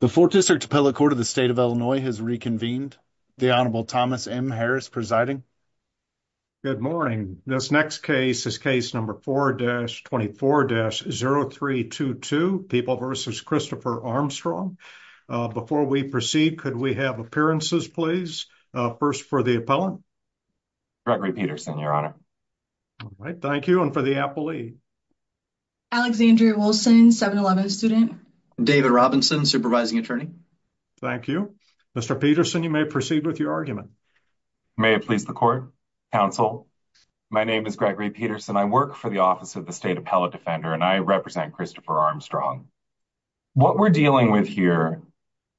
The 4th District Appellate Court of the State of Illinois has reconvened. The Honorable Thomas M. Harris presiding. Good morning. This next case is case number 4-24-0322, People v. Christopher Armstrong. Before we proceed, could we have appearances please? First for the appellant. Gregory Peterson, your honor. All right. Thank you. And for the appellee. Alexandria Wilson, 7-11 student. David Robinson, supervising attorney. Thank you. Mr. Peterson, you may proceed with your argument. May it please the court, counsel. My name is Gregory Peterson. I work for the Office of the State Appellate Defender and I represent Christopher Armstrong. What we're dealing with here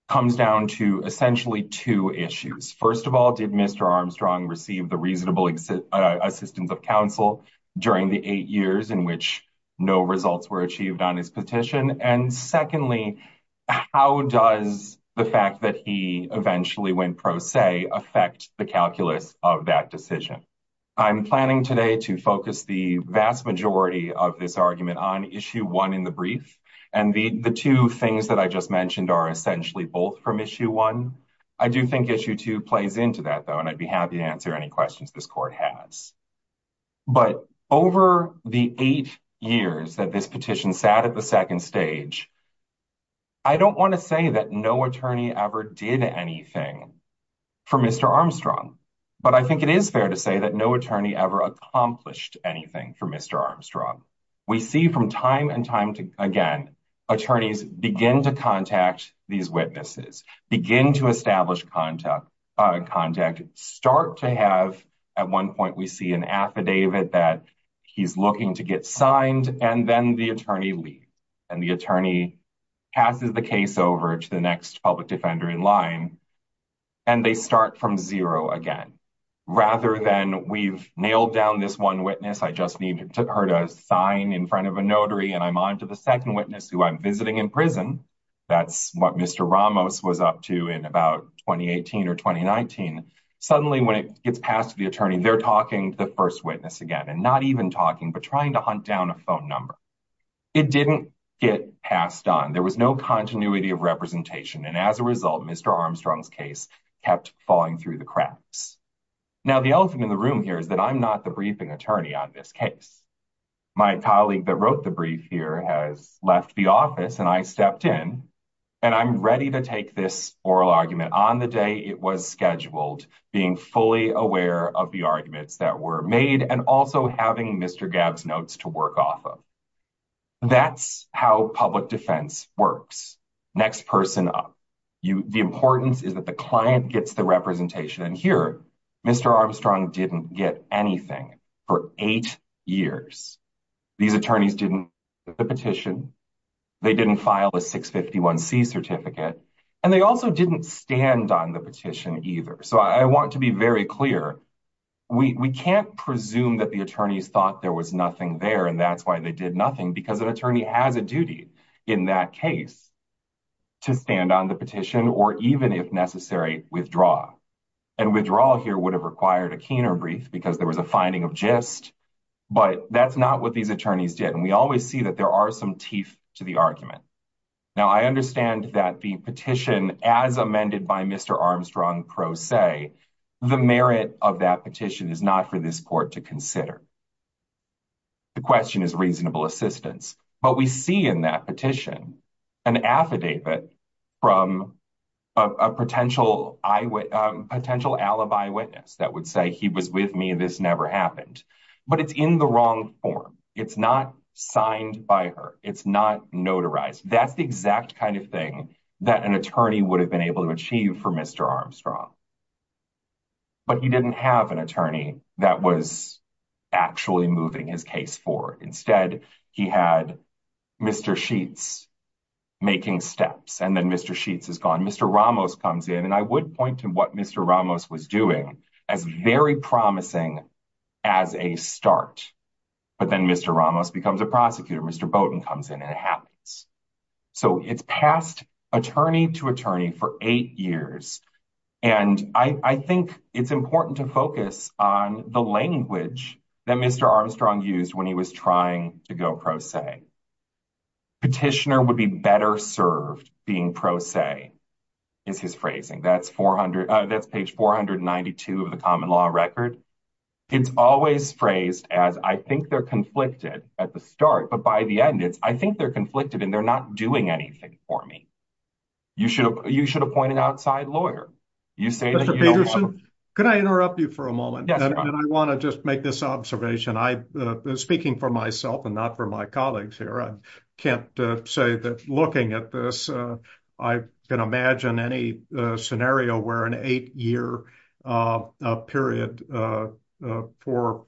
comes down to essentially 2 issues. First of all, did Mr. Armstrong receive the reasonable assistance of counsel during the 8 years in which no results were achieved on his petition? And secondly, how does the fact that he eventually went pro se affect the calculus of that decision? I'm planning today to focus the vast majority of this argument on issue 1 in the brief. And the 2 things that I just mentioned are essentially both from issue 1. I do think issue 2 plays into that, though, and I'd be happy to answer any questions this court has. But over the 8 years that this petition sat at the second stage, I don't want to say that no attorney ever did anything for Mr. Armstrong. But I think it is fair to say that no attorney ever accomplished anything for Mr. Armstrong. We see from time and time again, attorneys begin to contact these witnesses, begin to establish contact, start to have, at one point we see an affidavit that he's looking to get signed, and then the attorney leaves. And the attorney passes the case over to the next public defender in line and they start from zero again. Rather than, we've nailed down this one witness, I just need her to sign in front of a notary, and I'm on to the second witness who I'm visiting in prison. That's what Mr. Ramos was up to in about 2018 or 2019. Suddenly, when it gets passed to the attorney, they're talking to the first witness again, and not even talking, but trying to hunt down a phone number. It didn't get passed on. There was no continuity of representation. And as a result, Mr. Armstrong's case kept falling through the cracks. Now, the elephant in the room here is that I'm not the briefing attorney on this case. My colleague that wrote the brief here has left the office and I stepped in, and I'm ready to take this oral argument on the day it was scheduled, being fully aware of the arguments that were made, and also having Mr. Gabb's notes to work off of. That's how public defense works. Next person up. The importance is that the client gets the representation. And here, Mr. Armstrong didn't get anything for eight years. These attorneys didn't get the petition. They didn't file a 651C certificate. And they also didn't stand on the petition either. So I want to be very clear. We can't presume that the attorneys thought there was nothing there, and that's why they did nothing, because an attorney has a duty in that case to stand on the petition or even, if necessary, withdraw. And withdrawal here would have required a Keener brief because there was a finding of gist, but that's not what these attorneys did. And we always see that there are some teeth to the argument. Now, I understand that the petition, as amended by Mr. Armstrong pro se, the merit of that petition is not for this court to consider. The question is reasonable assistance, but we see in that petition an affidavit from a potential alibi witness that would say he was with me, this never happened. But it's in the wrong form. It's not signed by her. It's not notarized. That's the exact kind of thing that an attorney would have been able to achieve for Mr. Armstrong. But he didn't have an attorney that was actually moving his case forward. Instead, he had Mr. Sheets making steps and then Mr. Sheets is gone. Mr. Ramos comes in and I would point to what Mr. Ramos was doing as very promising as a start. But then Mr. Ramos becomes a prosecutor. Mr. Bowden comes in and it happens. So it's passed attorney to attorney for eight years. And I think it's important to focus on the language that Mr. Armstrong used when he was trying to go pro se. Petitioner would be better served being pro se. Is his phrasing that's 400 that's page 492 of the common law record. It's always phrased as I think they're conflicted at the start, but by the end, it's I think they're conflicted and they're not doing anything for me. You should you should appoint an outside lawyer. You say, could I interrupt you for a moment? And I want to just make this observation. I speaking for myself and not for my colleagues here. I can't say that looking at this, I can imagine any scenario where an 8 year period for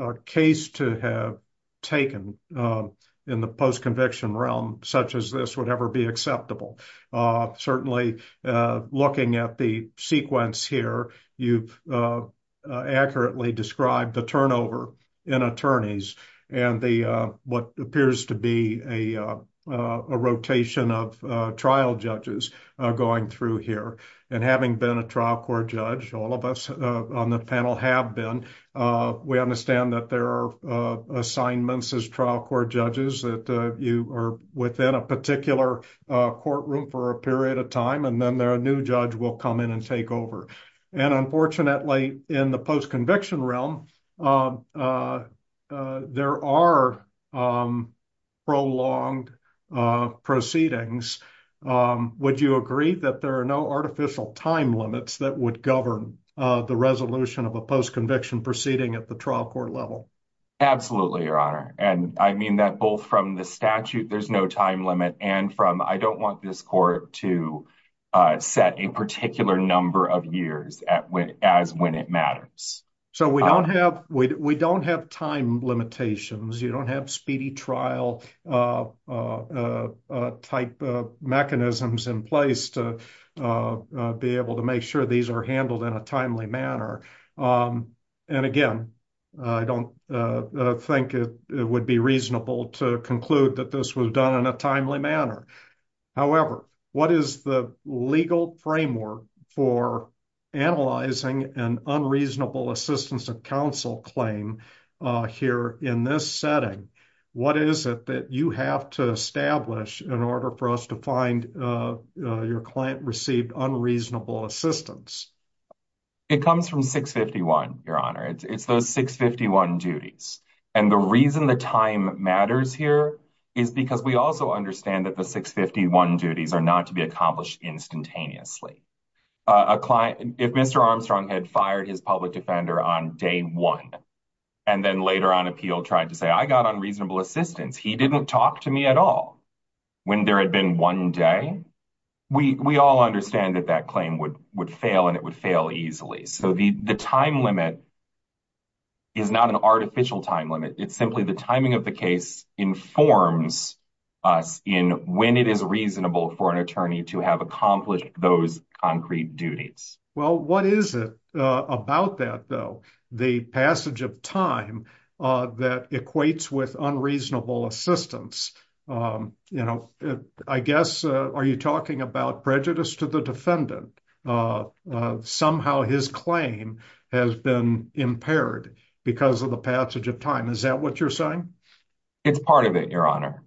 a case to have taken in the post conviction realm, such as this would ever be acceptable. Certainly, looking at the sequence here, you've accurately described the turnover in attorneys and the what appears to be a rotation of trial judges going through here. And having been a trial court judge, all of us on the panel have been. We understand that there are assignments as trial court judges that you are within a particular courtroom for a period of time, and then there are new judge will come in and take over. And unfortunately, in the post conviction realm, there are prolonged proceedings. Would you agree that there are no artificial time limits that would govern the resolution of a post conviction proceeding at the trial court level? Absolutely, your honor. And I mean that both from the statute, there's no time limit and from I don't want this court to set a particular number of years as when it matters. So, we don't have we don't have time limitations. You don't have speedy trial type of mechanisms in place to be able to make sure these are handled in a timely manner. And again, I don't think it would be reasonable to conclude that this was done in a timely manner. However, what is the legal framework for analyzing an unreasonable assistance of counsel claim here in this setting? What is it that you have to establish in order for us to find your client received unreasonable assistance? It comes from 651, your honor, it's those 651 duties. And the reason the time matters here is because we also understand that the 651 duties are not to be accomplished instantaneously. A client, if Mr. Armstrong had fired his public defender on day one, and then later on appeal tried to say, I got unreasonable assistance. He didn't talk to me at all. When there had been one day, we all understand that that claim would fail and it would fail easily. So, the time limit is not an artificial time limit. It's simply the timing of the case informs us in when it is reasonable for an attorney to have accomplished those concrete duties. Well, what is it about that, though, the passage of time that equates with unreasonable assistance? You know, I guess, are you talking about prejudice to the defendant? Somehow his claim has been impaired because of the passage of time. Is that what you're saying? It's part of it, your honor.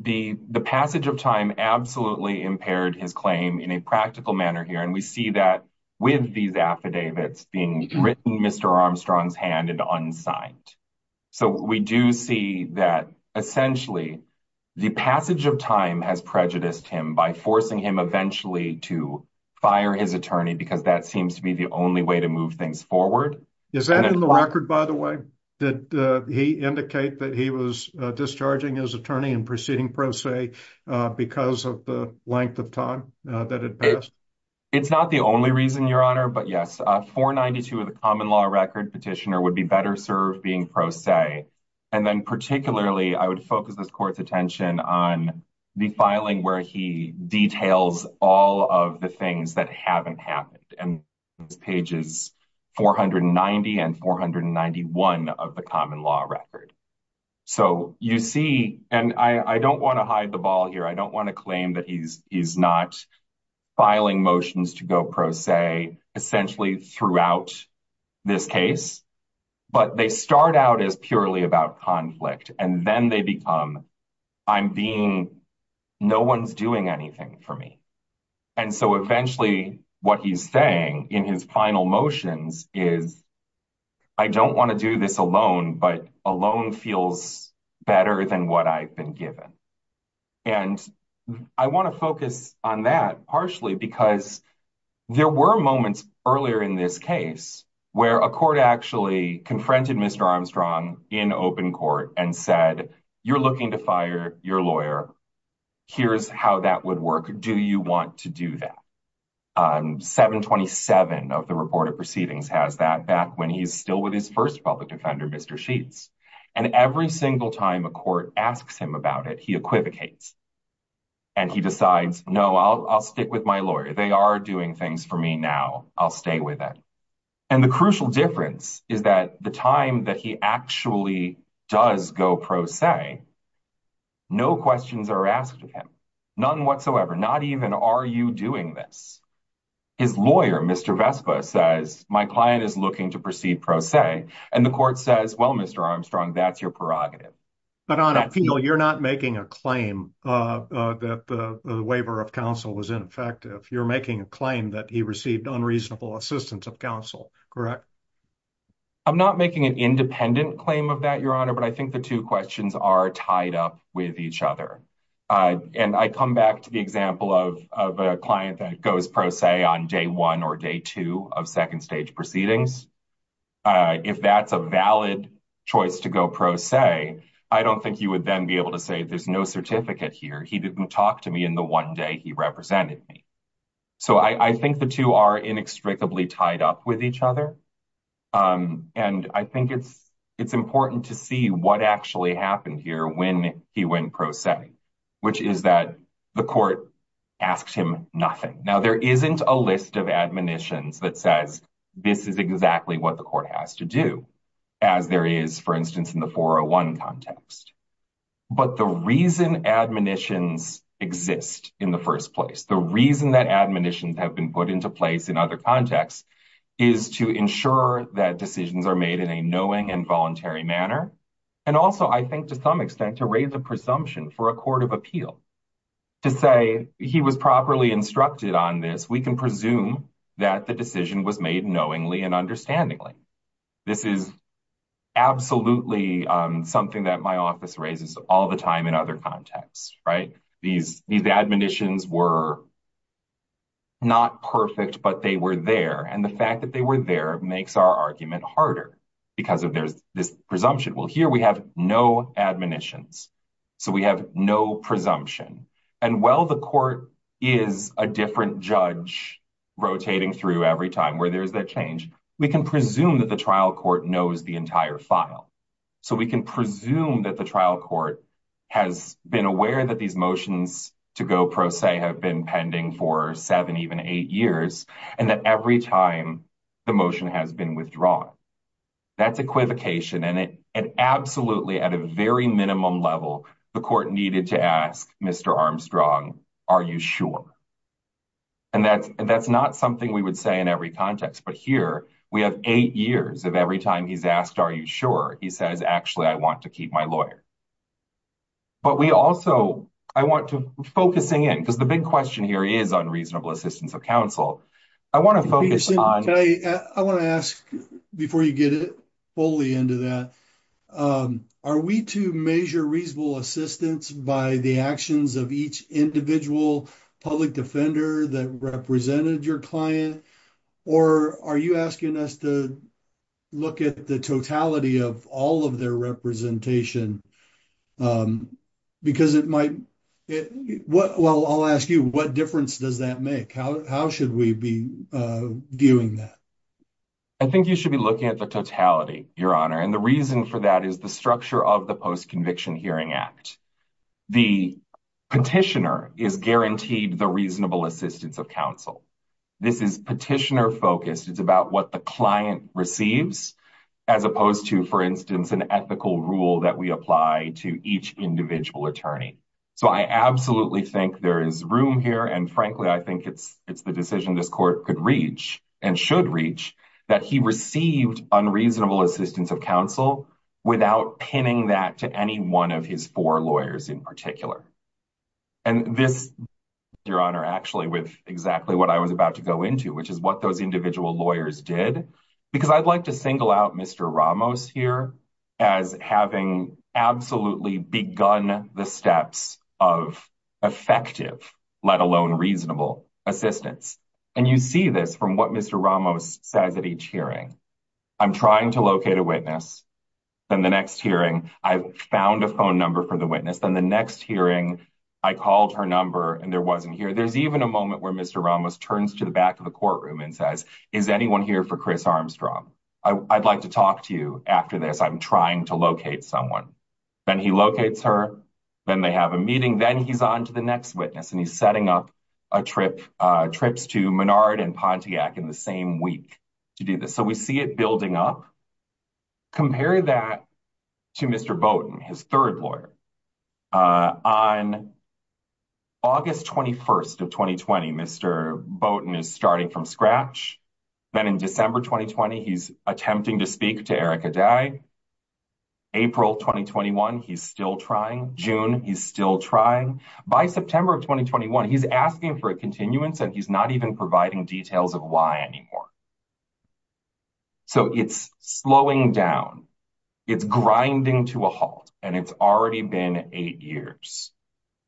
The passage of time absolutely impaired his claim in a practical manner here. And we see that with these affidavits being written Mr. Armstrong's hand and unsigned. So, we do see that essentially the passage of time has prejudiced him by forcing him eventually to fire his attorney because that seems to be the only way to move things forward. Is that in the record, by the way, that he indicate that he was discharging his attorney and proceeding pro se because of the length of time that had passed? It's not the only reason, your honor. But yes, 492 of the common law record petitioner would be better served being pro se. And then particularly, I would focus this court's attention on the filing where he details all of the things that haven't happened. And this page is 490 and 491 of the common law record. So, you see, and I don't want to hide the ball here. I don't want to claim that he's not filing motions to go pro se essentially throughout this case. But they start out as purely about conflict and then they become, I'm being, no one's doing anything for me. And so eventually what he's saying in his final motions is, I don't want to do this alone, but alone feels better than what I've been given. And I want to focus on that partially because there were moments earlier in this case where a court actually confronted Mr. Armstrong in open court and said, you're looking to fire your lawyer. Here's how that would work. Do you want to do that? 727 of the report of proceedings has that back when he's still with his first public defender, Mr. Sheets. And every single time a court asks him about it, he equivocates. And he decides, no, I'll stick with my lawyer. They are doing things for me now. I'll stay with it. And the crucial difference is that the time that he actually does go pro se, no questions are asked of him. None whatsoever. Not even are you doing this? His lawyer, Mr. Vespa says, my client is looking to proceed pro se. And the court says, well, Mr. Armstrong, that's your prerogative. But on appeal, you're not making a claim that the waiver of counsel was ineffective. You're making a claim that he received unreasonable assistance of counsel. Correct. I'm not making an independent claim of that, Your Honor, but I think the 2 questions are tied up with each other. And I come back to the example of a client that goes pro se on day 1 or day 2 of 2nd stage proceedings. If that's a valid choice to go pro se, I don't think he would then be able to say there's no certificate here. He didn't talk to me in the one day he represented me. So I think the 2 are inextricably tied up with each other. And I think it's important to see what actually happened here when he went pro se, which is that the court asked him nothing. Now, there isn't a list of admonitions that says this is exactly what the court has to do, as there is, for instance, in the 401 context. But the reason admonitions exist in the first place, the reason that admonitions have been put into place in other contexts is to ensure that decisions are made in a knowing and voluntary manner. And also, I think, to some extent, to raise a presumption for a court of appeal to say he was properly instructed on this, we can presume that the decision was made knowingly and understandingly. This is absolutely something that my office raises all the time in other contexts. Right? These admonitions were not perfect, but they were there. And the fact that they were there makes our argument harder because of this presumption. Well, here we have no admonitions, so we have no presumption. And while the court is a different judge rotating through every time where there is that change, we can presume that the trial court knows the entire file. So we can presume that the trial court has been aware that these motions to go pro se have been pending for seven, even eight years, and that every time the motion has been withdrawn. That's equivocation, and absolutely at a very minimum level, the court needed to ask Mr. Armstrong, are you sure? And that's not something we would say in every context, but here we have eight years of every time he's asked, are you sure? He says, actually, I want to keep my lawyer. But we also, I want to, focusing in, because the big question here is on reasonable assistance of counsel. I want to ask before you get fully into that, are we to measure reasonable assistance by the actions of each individual public defender that represented your client? Or are you asking us to look at the totality of all of their representation? Because it might, well, I'll ask you, what difference does that make? How should we be viewing that? I think you should be looking at the totality, Your Honor, and the reason for that is the structure of the Post-Conviction Hearing Act. The petitioner is guaranteed the reasonable assistance of counsel. This is petitioner-focused. It's about what the client receives, as opposed to, for instance, an ethical rule that we apply to each individual attorney. So I absolutely think there is room here, and frankly, I think it's the decision this court could reach and should reach, that he received unreasonable assistance of counsel without pinning that to any one of his four lawyers in particular. And this, Your Honor, actually with exactly what I was about to go into, which is what those individual lawyers did, because I'd like to single out Mr. Ramos here as having absolutely begun the steps of effective, let alone reasonable, assistance. And you see this from what Mr. Ramos says at each hearing. I'm trying to locate a witness. Then the next hearing, I found a phone number for the witness. Then the next hearing, I called her number, and there wasn't here. There's even a moment where Mr. Ramos turns to the back of the courtroom and says, is anyone here for Chris Armstrong? I'd like to talk to you after this. I'm trying to locate someone. Then he locates her. Then they have a meeting. Then he's on to the next witness, and he's setting up trips to Menard and Pontiac in the same week to do this. So we see it building up. Compare that to Mr. Bowden, his third lawyer. On August 21st of 2020, Mr. Bowden is starting from scratch. Then in December 2020, he's attempting to speak to Eric Adai. April 2021, he's still trying. June, he's still trying. By September of 2021, he's asking for a continuance, and he's not even providing details of why anymore. So it's slowing down. It's grinding to a halt, and it's already been eight years.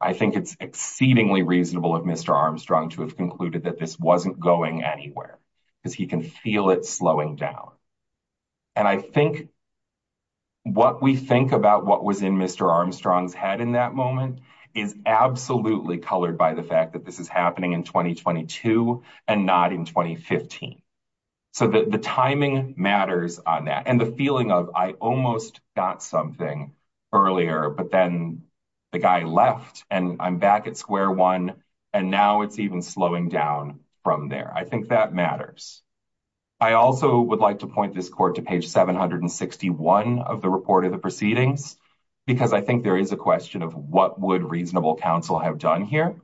I think it's exceedingly reasonable of Mr. Armstrong to have concluded that this wasn't going anywhere, because he can feel it slowing down. And I think what we think about what was in Mr. Armstrong's head in that moment is absolutely colored by the fact that this is happening in 2022 and not in 2015. So the timing matters on that, and the feeling of, I almost got something earlier, but then the guy left, and I'm back at square one, and now it's even slowing down from there. I think that matters. I also would like to point this court to page 761 of the report of the proceedings, because I think there is a question of what would reasonable counsel have done here.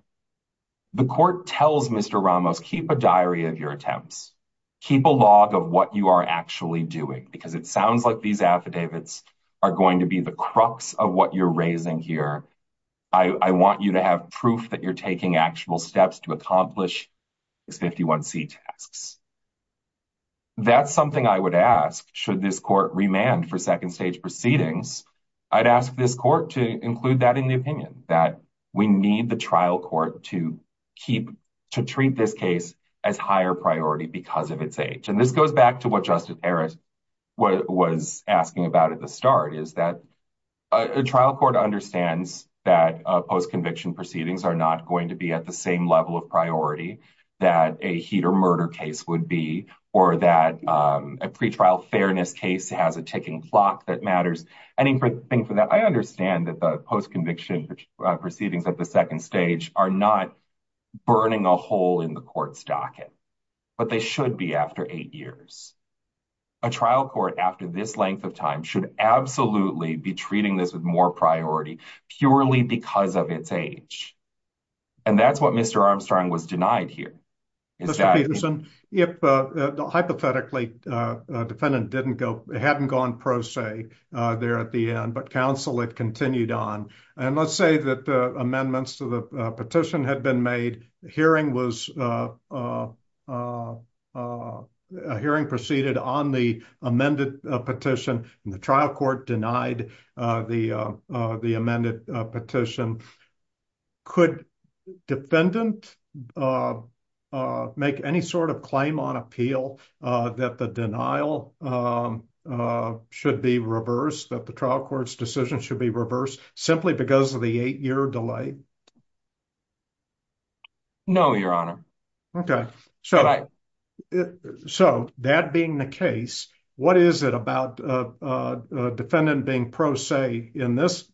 The court tells Mr. Ramos, keep a diary of your attempts. Keep a log of what you are actually doing, because it sounds like these affidavits are going to be the crux of what you're raising here. I want you to have proof that you're taking actual steps to accomplish these 51C tasks. That's something I would ask, should this court remand for second-stage proceedings, I'd ask this court to include that in the opinion, that we need the trial court to treat this case as higher priority because of its age. And this goes back to what Justice Harris was asking about at the start, is that a trial court understands that post-conviction proceedings are not going to be at the same level of priority that a heat or murder case would be, or that a pretrial fairness case has a ticking clock that matters. I understand that the post-conviction proceedings at the second stage are not burning a hole in the court's docket, but they should be after eight years. A trial court after this length of time should absolutely be treating this with more priority purely because of its age. And that's what Mr. Armstrong was denied here. Mr. Peterson, hypothetically, defendant hadn't gone pro se there at the end, but counsel had continued on. And let's say that amendments to the petition had been made, a hearing proceeded on the amended petition and the trial court denied the amended petition. Could defendant make any sort of claim on appeal that the denial should be reversed, that the trial court's decision should be reversed simply because of the eight-year delay? No, Your Honor. Okay. So that being the case, what is it about defendant being pro se in this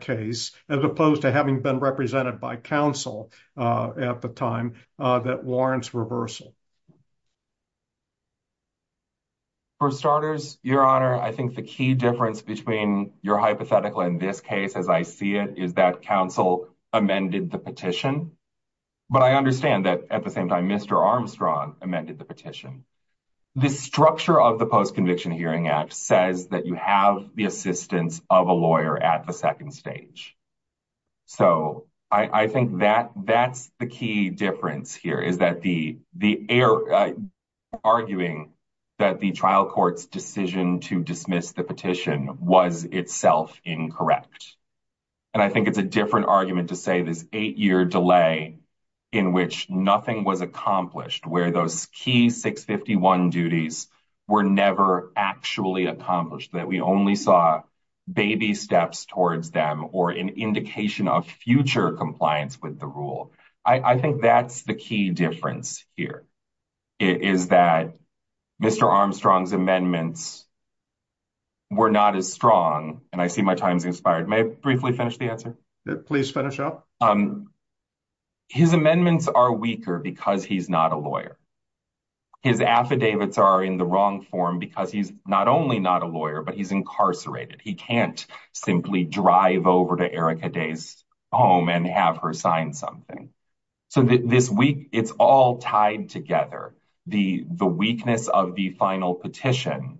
case as opposed to having been represented by counsel at the time that warrants reversal? For starters, Your Honor, I think the key difference between your hypothetical in this case, as I see it, is that counsel amended the petition. But I understand that at the same time, Mr. Armstrong amended the petition. The structure of the Post-Conviction Hearing Act says that you have the assistance of a lawyer at the second stage. So I think that that's the key difference here, is that the arguing that the trial court's decision to dismiss the petition was itself incorrect. And I think it's a different argument to say this eight-year delay in which nothing was accomplished, where those key 651 duties were never actually accomplished, that we only saw baby steps towards them or an indication of future compliance with the rule. I think that's the key difference here, is that Mr. Armstrong's amendments were not as strong. And I see my time's expired. May I briefly finish the answer? Please finish up. His amendments are weaker because he's not a lawyer. His affidavits are in the wrong form because he's not only not a lawyer, but he's incarcerated. He can't simply drive over to Erica Day's home and have her sign something. So this week, it's all tied together. The weakness of the final petition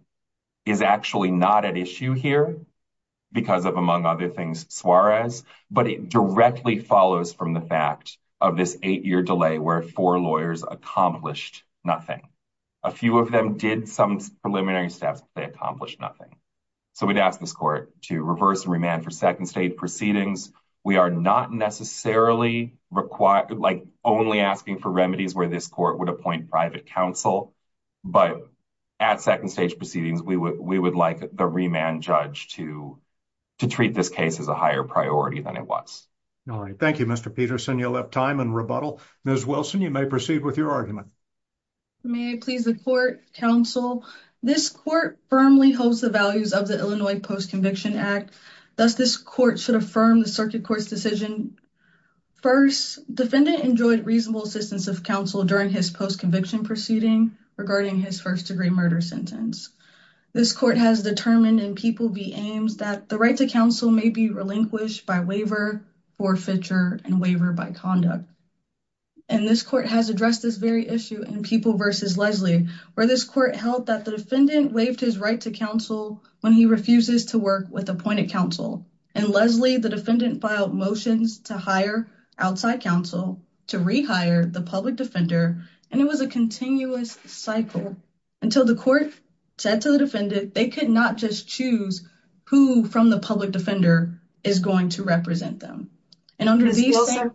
is actually not at issue here because of, among other things, Suarez, but it directly follows from the fact of this eight-year delay where four lawyers accomplished nothing. A few of them did some preliminary steps, but they accomplished nothing. So we'd ask this court to reverse and remand for second-stage proceedings. We are not necessarily only asking for remedies where this court would appoint private counsel, but at second-stage proceedings, we would like the remand judge to treat this case as a higher priority than it was. All right. Thank you, Mr. Peterson. You'll have time in rebuttal. Ms. Wilson, you may proceed with your argument. May I please the court, counsel? This court firmly holds the values of the Illinois Post-Conviction Act. Thus, this court should affirm the circuit court's decision. First, defendant enjoyed reasonable assistance of counsel during his post-conviction proceeding regarding his first-degree murder sentence. This court has determined in People v. Ames that the right to counsel may be relinquished by waiver, forfeiture, and waiver by conduct. And this court has addressed this very issue in People v. Leslie, where this court held that the defendant waived his right to counsel when he refuses to work with appointed counsel. In Leslie, the defendant filed motions to hire outside counsel to rehire the public defender, and it was a continuous cycle until the court said to the defendant they could not just choose who from the public defender is going to represent them. Ms. Wilson,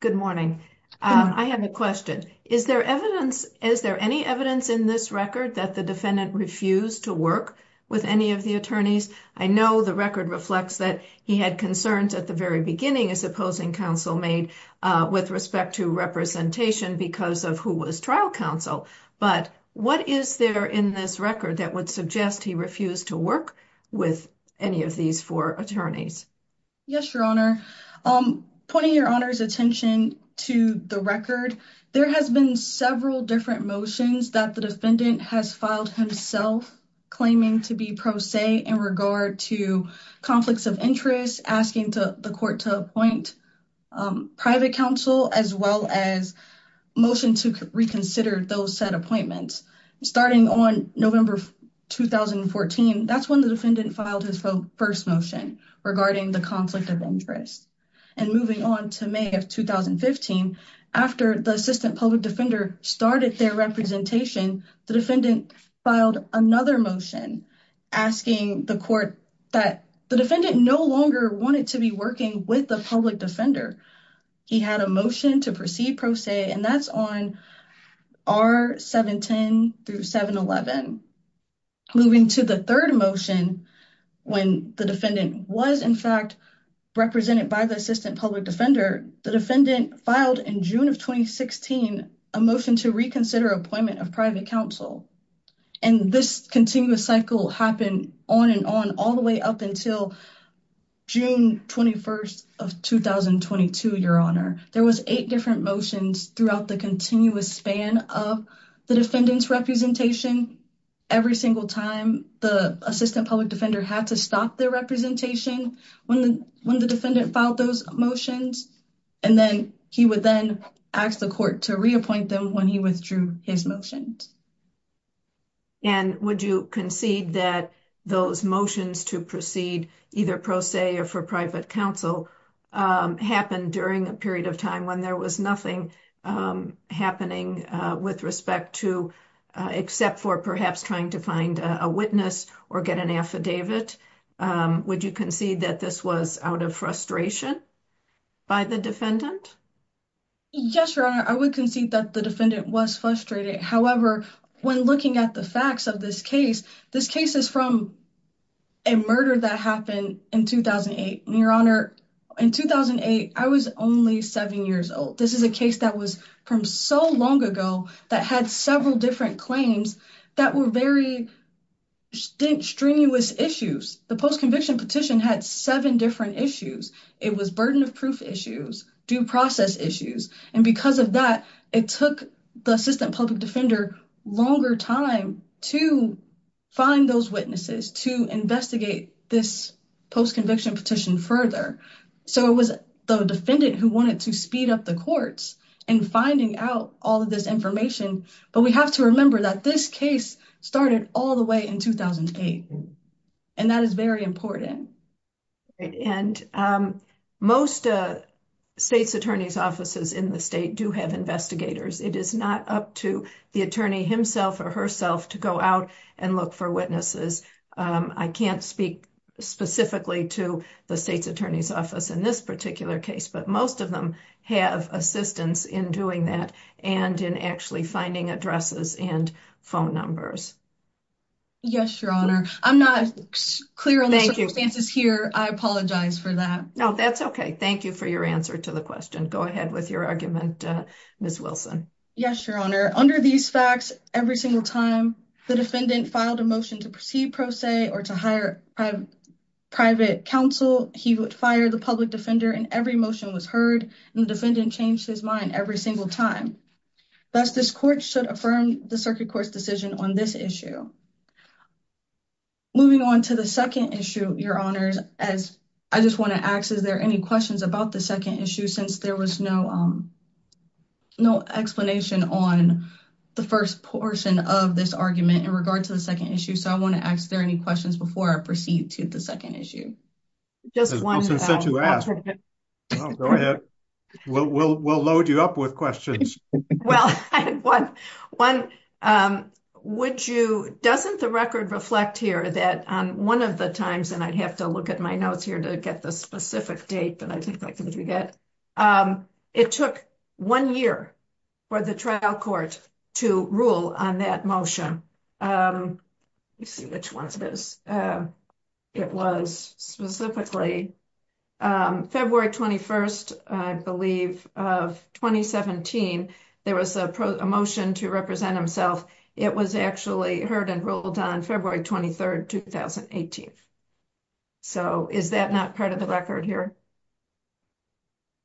good morning. I have a question. Is there any evidence in this record that the defendant refused to work with any of the attorneys? I know the record reflects that he had concerns at the very beginning as opposing counsel made with respect to representation because of who was trial counsel. But what is there in this record that would suggest he refused to work with any of these four attorneys? Yes, Your Honor. Pointing Your Honor's attention to the record, there has been several different motions that the defendant has filed himself claiming to be pro se in regard to conflicts of interest, asking the court to appoint private counsel, as well as motion to reconsider those set appointments. Starting on November 2014, that's when the defendant filed his first motion regarding the conflict of interest. And moving on to May of 2015, after the assistant public defender started their representation, the defendant filed another motion asking the court that the defendant no longer wanted to be working with the public defender. He had a motion to proceed pro se, and that's on R-710 through 711. Moving to the third motion, when the defendant was, in fact, represented by the assistant public defender, the defendant filed in June of 2016 a motion to reconsider appointment of private counsel. And this continuous cycle happened on and on all the way up until June 21st of 2022, Your Honor. There was eight different motions throughout the continuous span of the defendant's representation. Every single time, the assistant public defender had to stop their representation when the defendant filed those motions, and then he would then ask the court to reappoint them when he withdrew his motions. And would you concede that those motions to proceed either pro se or for private counsel happened during a period of time when there was nothing happening with respect to, except for perhaps trying to find a witness or get an affidavit? Would you concede that this was out of frustration by the defendant? Yes, Your Honor, I would concede that the defendant was frustrated. However, when looking at the facts of this case, this case is from a murder that happened in 2008. Your Honor, in 2008, I was only seven years old. This is a case that was from so long ago that had several different claims that were very strenuous issues. The post-conviction petition had seven different issues. It was burden of proof issues, due process issues. And because of that, it took the assistant public defender longer time to find those witnesses to investigate this post-conviction petition further. So it was the defendant who wanted to speed up the courts and finding out all of this information. But we have to remember that this case started all the way in 2008, and that is very important. And most state's attorney's offices in the state do have investigators. It is not up to the attorney himself or herself to go out and look for witnesses. I can't speak specifically to the state's attorney's office in this particular case, but most of them have assistance in doing that and in actually finding addresses and phone numbers. Yes, Your Honor. I'm not clear on the circumstances here. I apologize for that. No, that's okay. Thank you for your answer to the question. Go ahead with your argument, Ms. Wilson. Yes, Your Honor. Under these facts, every single time the defendant filed a motion to proceed pro se or to hire private counsel, he would fire the public defender and every motion was heard and the defendant changed his mind every single time. Thus, this court should affirm the circuit court's decision on this issue. Moving on to the second issue, Your Honors, as I just want to ask, is there any questions about the second issue? Since there was no explanation on the first portion of this argument in regard to the second issue. So I want to ask, are there any questions before I proceed to the second issue? As Wilson said to ask. Go ahead. We'll load you up with questions. Well, one, doesn't the record reflect here that on one of the times, and I'd have to look at my notes here to get the specific date that I think I can forget, it took one year for the trial court to rule on that motion. Let me see which one it is. It was specifically February 21st, I believe, of 2017. There was a motion to represent himself. It was actually heard and ruled on February 23rd, 2018. So is that not part of the record here?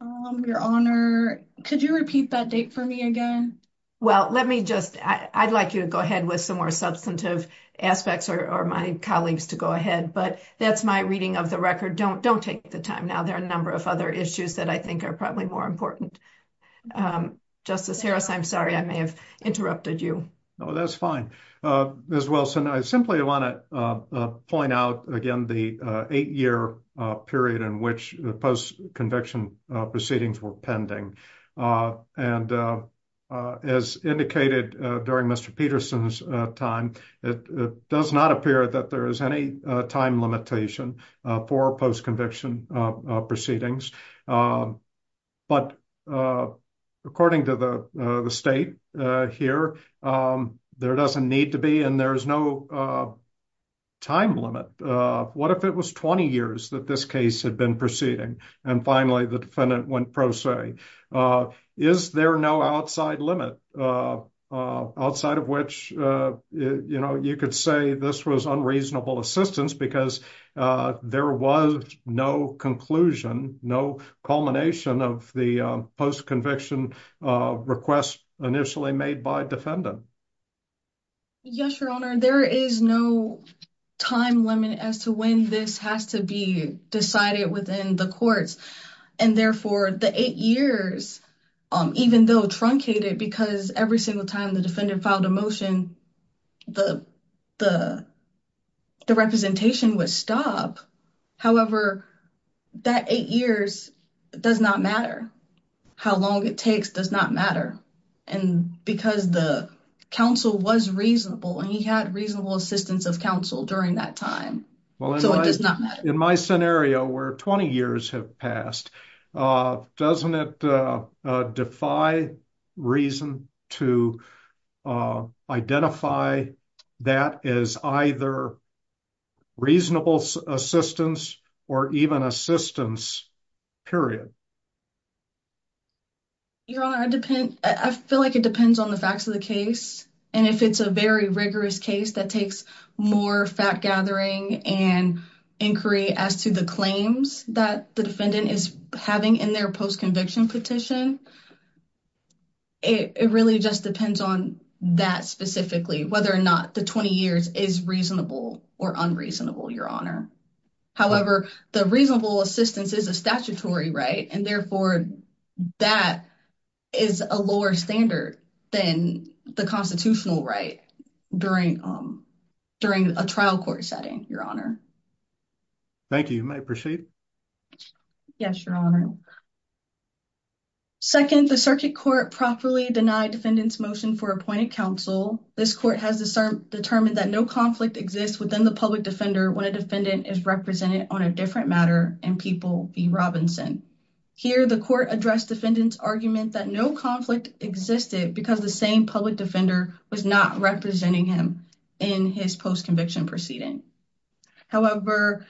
Your Honor, could you repeat that date for me again? Well, let me just, I'd like you to go ahead with some more substantive aspects or my colleagues to go ahead, but that's my reading of the record. Don't take the time now. There are a number of other issues that I think are probably more important. Justice Harris, I'm sorry I may have interrupted you. No, that's fine. Ms. Wilson, I simply want to point out, again, the eight-year period in which the post-conviction proceedings were pending. And as indicated during Mr. Peterson's time, it does not appear that there is any time limitation for post-conviction proceedings. But according to the state here, there doesn't need to be and there is no time limit. What if it was 20 years that this case had been proceeding and finally the defendant went pro se? Is there no outside limit outside of which, you know, you could say this was unreasonable assistance because there was no conclusion, no culmination of the post-conviction request initially made by defendant? Yes, Your Honor, there is no time limit as to when this has to be decided within the courts. And therefore, the eight years, even though truncated because every single time the defendant filed a motion, the representation would stop. However, that eight years does not matter. How long it takes does not matter. And because the counsel was reasonable and he had reasonable assistance of counsel during that time, so it does not matter. In my scenario where 20 years have passed, doesn't it defy reason to identify that as either reasonable assistance or even assistance, period? Your Honor, I feel like it depends on the facts of the case. And if it's a very rigorous case that takes more fact gathering and inquiry as to the claims that the defendant is having in their post-conviction petition, it really just depends on that specifically, whether or not the 20 years is reasonable or unreasonable, Your Honor. However, the reasonable assistance is a statutory right, and therefore, that is a lower standard than the constitutional right during a trial court setting, Your Honor. Thank you, I appreciate it. Yes, Your Honor. Second, the circuit court properly denied defendant's motion for appointed counsel. This court has determined that no conflict exists within the public defender when a defendant is represented on a different matter in People v. Robinson. Here, the court addressed defendant's argument that no conflict existed because the same public defender was not representing him in his post-conviction proceeding. However,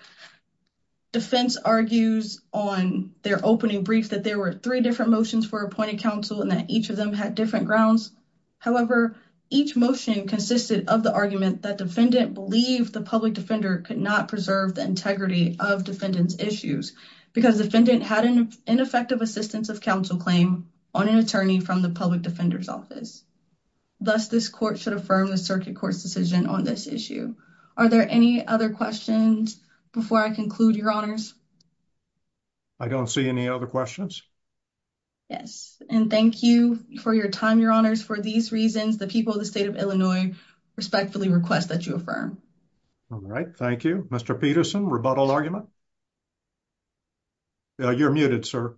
defense argues on their opening brief that there were three different motions for appointed counsel and that each of them had different grounds. However, each motion consisted of the argument that defendant believed the public defender could not preserve the integrity of defendant's issues because defendant had ineffective assistance of counsel claim on an attorney from the public defender's office. Thus, this court should affirm the circuit court's decision on this issue. Are there any other questions before I conclude, Your Honors? I don't see any other questions. Yes, and thank you for your time, Your Honors. For these reasons, the people of the state of Illinois respectfully request that you affirm. All right, thank you. Mr. Peterson, rebuttal argument? You're muted, sir.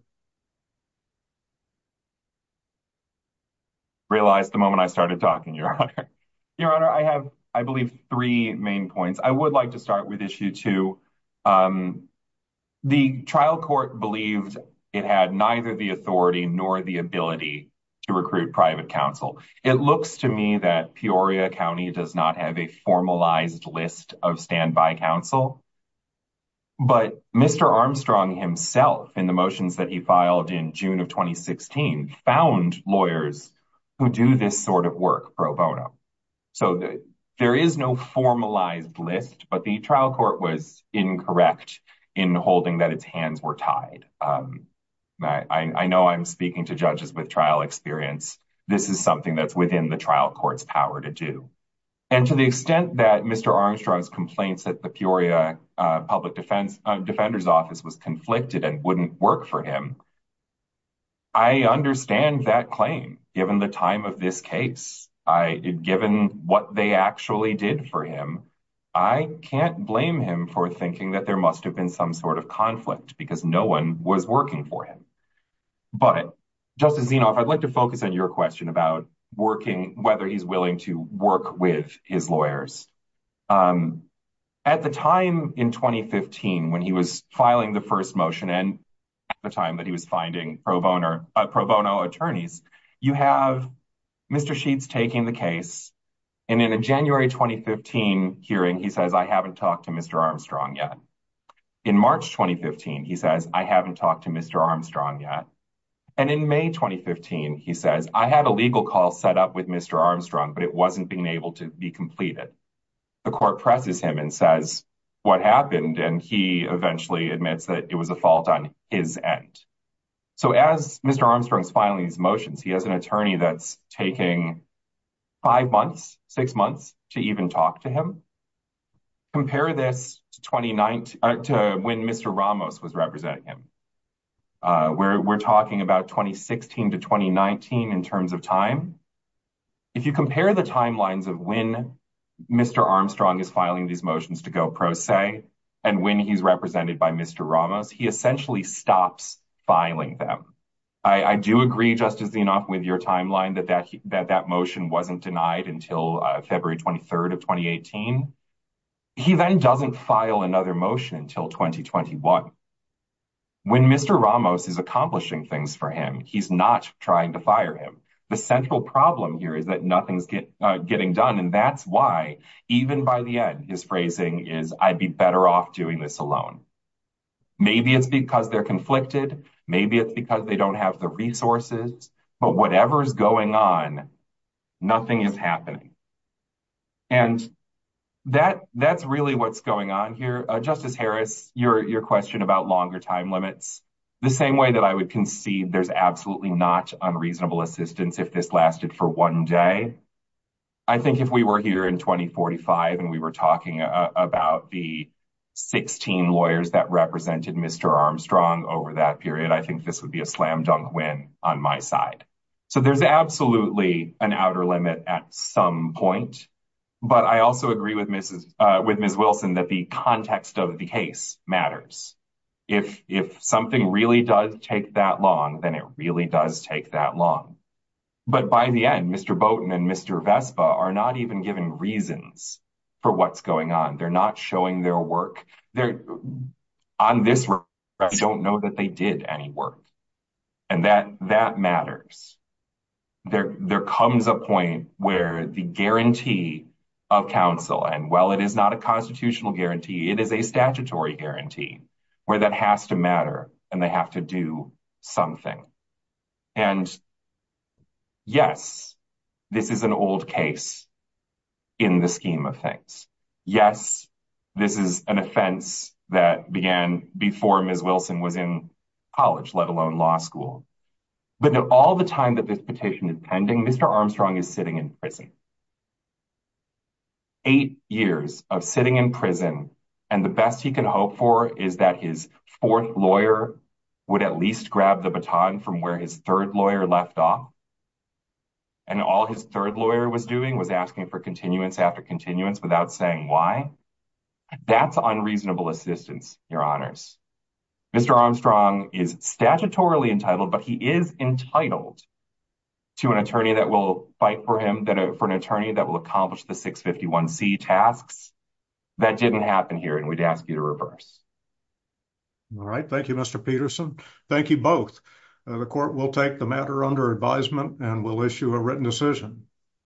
Realized the moment I started talking, Your Honor. Your Honor, I have, I believe, three main points. I would like to start with issue two. The trial court believed it had neither the authority nor the ability to recruit private counsel. It looks to me that Peoria County does not have a formalized list of standby counsel. But Mr. Armstrong himself, in the motions that he filed in June of 2016, found lawyers who do this sort of work pro bono. So there is no formalized list, but the trial court was incorrect in holding that its hands were tied. I know I'm speaking to judges with trial experience. This is something that's within the trial court's power to do. And to the extent that Mr. Armstrong's complaints at the Peoria Public Defender's Office was conflicted and wouldn't work for him, I understand that claim, given the time of this case, given what they actually did for him. I can't blame him for thinking that there must have been some sort of conflict because no one was working for him. But, Justice Zinoff, I'd like to focus on your question about whether he's willing to work with his lawyers. At the time in 2015, when he was filing the first motion and at the time that he was finding pro bono attorneys, you have Mr. Sheets taking the case, and in a January 2015 hearing, he says, I haven't talked to Mr. Armstrong yet. In March 2015, he says, I haven't talked to Mr. Armstrong yet. And in May 2015, he says, I had a legal call set up with Mr. Armstrong, but it wasn't being able to be completed. The court presses him and says, what happened? And he eventually admits that it was a fault on his end. So as Mr. Armstrong's filing his motions, he has an attorney that's taking five months, six months to even talk to him. Compare this to when Mr. Ramos was representing him. We're talking about 2016 to 2019 in terms of time. If you compare the timelines of when Mr. Armstrong is filing these motions to go pro se and when he's represented by Mr. Ramos, he essentially stops filing them. I do agree just as enough with your timeline that that that motion wasn't denied until February 23rd of 2018. He then doesn't file another motion until 2021. When Mr. Ramos is accomplishing things for him, he's not trying to fire him. The central problem here is that nothing's getting done. And that's why even by the end, his phrasing is I'd be better off doing this alone. Maybe it's because they're conflicted. Maybe it's because they don't have the resources. But whatever is going on, nothing is happening. And that that's really what's going on here. Justice Harris, your question about longer time limits, the same way that I would concede there's absolutely not unreasonable assistance if this lasted for one day. I think if we were here in 2045 and we were talking about the 16 lawyers that represented Mr. Armstrong over that period, I think this would be a slam dunk win on my side. So there's absolutely an outer limit at some point. But I also agree with Mrs. with Ms. Wilson that the context of the case matters. If if something really does take that long, then it really does take that long. But by the end, Mr. Bowden and Mr. Vespa are not even given reasons for what's going on. They're not showing their work there on this. I don't know that they did any work and that that matters. There there comes a point where the guarantee of counsel and well, it is not a constitutional guarantee. It is a statutory guarantee where that has to matter and they have to do something. And, yes, this is an old case in the scheme of things. Yes, this is an offense that began before Ms. Wilson was in college, let alone law school. But all the time that this petition is pending, Mr. Armstrong is sitting in prison. Eight years of sitting in prison and the best he can hope for is that his fourth lawyer would at least grab the baton from where his third lawyer left off. And all his third lawyer was doing was asking for continuance after continuance without saying why. That's unreasonable assistance, your honors. Mr. Armstrong is statutorily entitled, but he is entitled to an attorney that will fight for him that for an attorney that will accomplish the 651 C tasks that didn't happen here. And we'd ask you to reverse. All right, thank you, Mr. Peterson. Thank you both. The court will take the matter under advisement and will issue a written decision.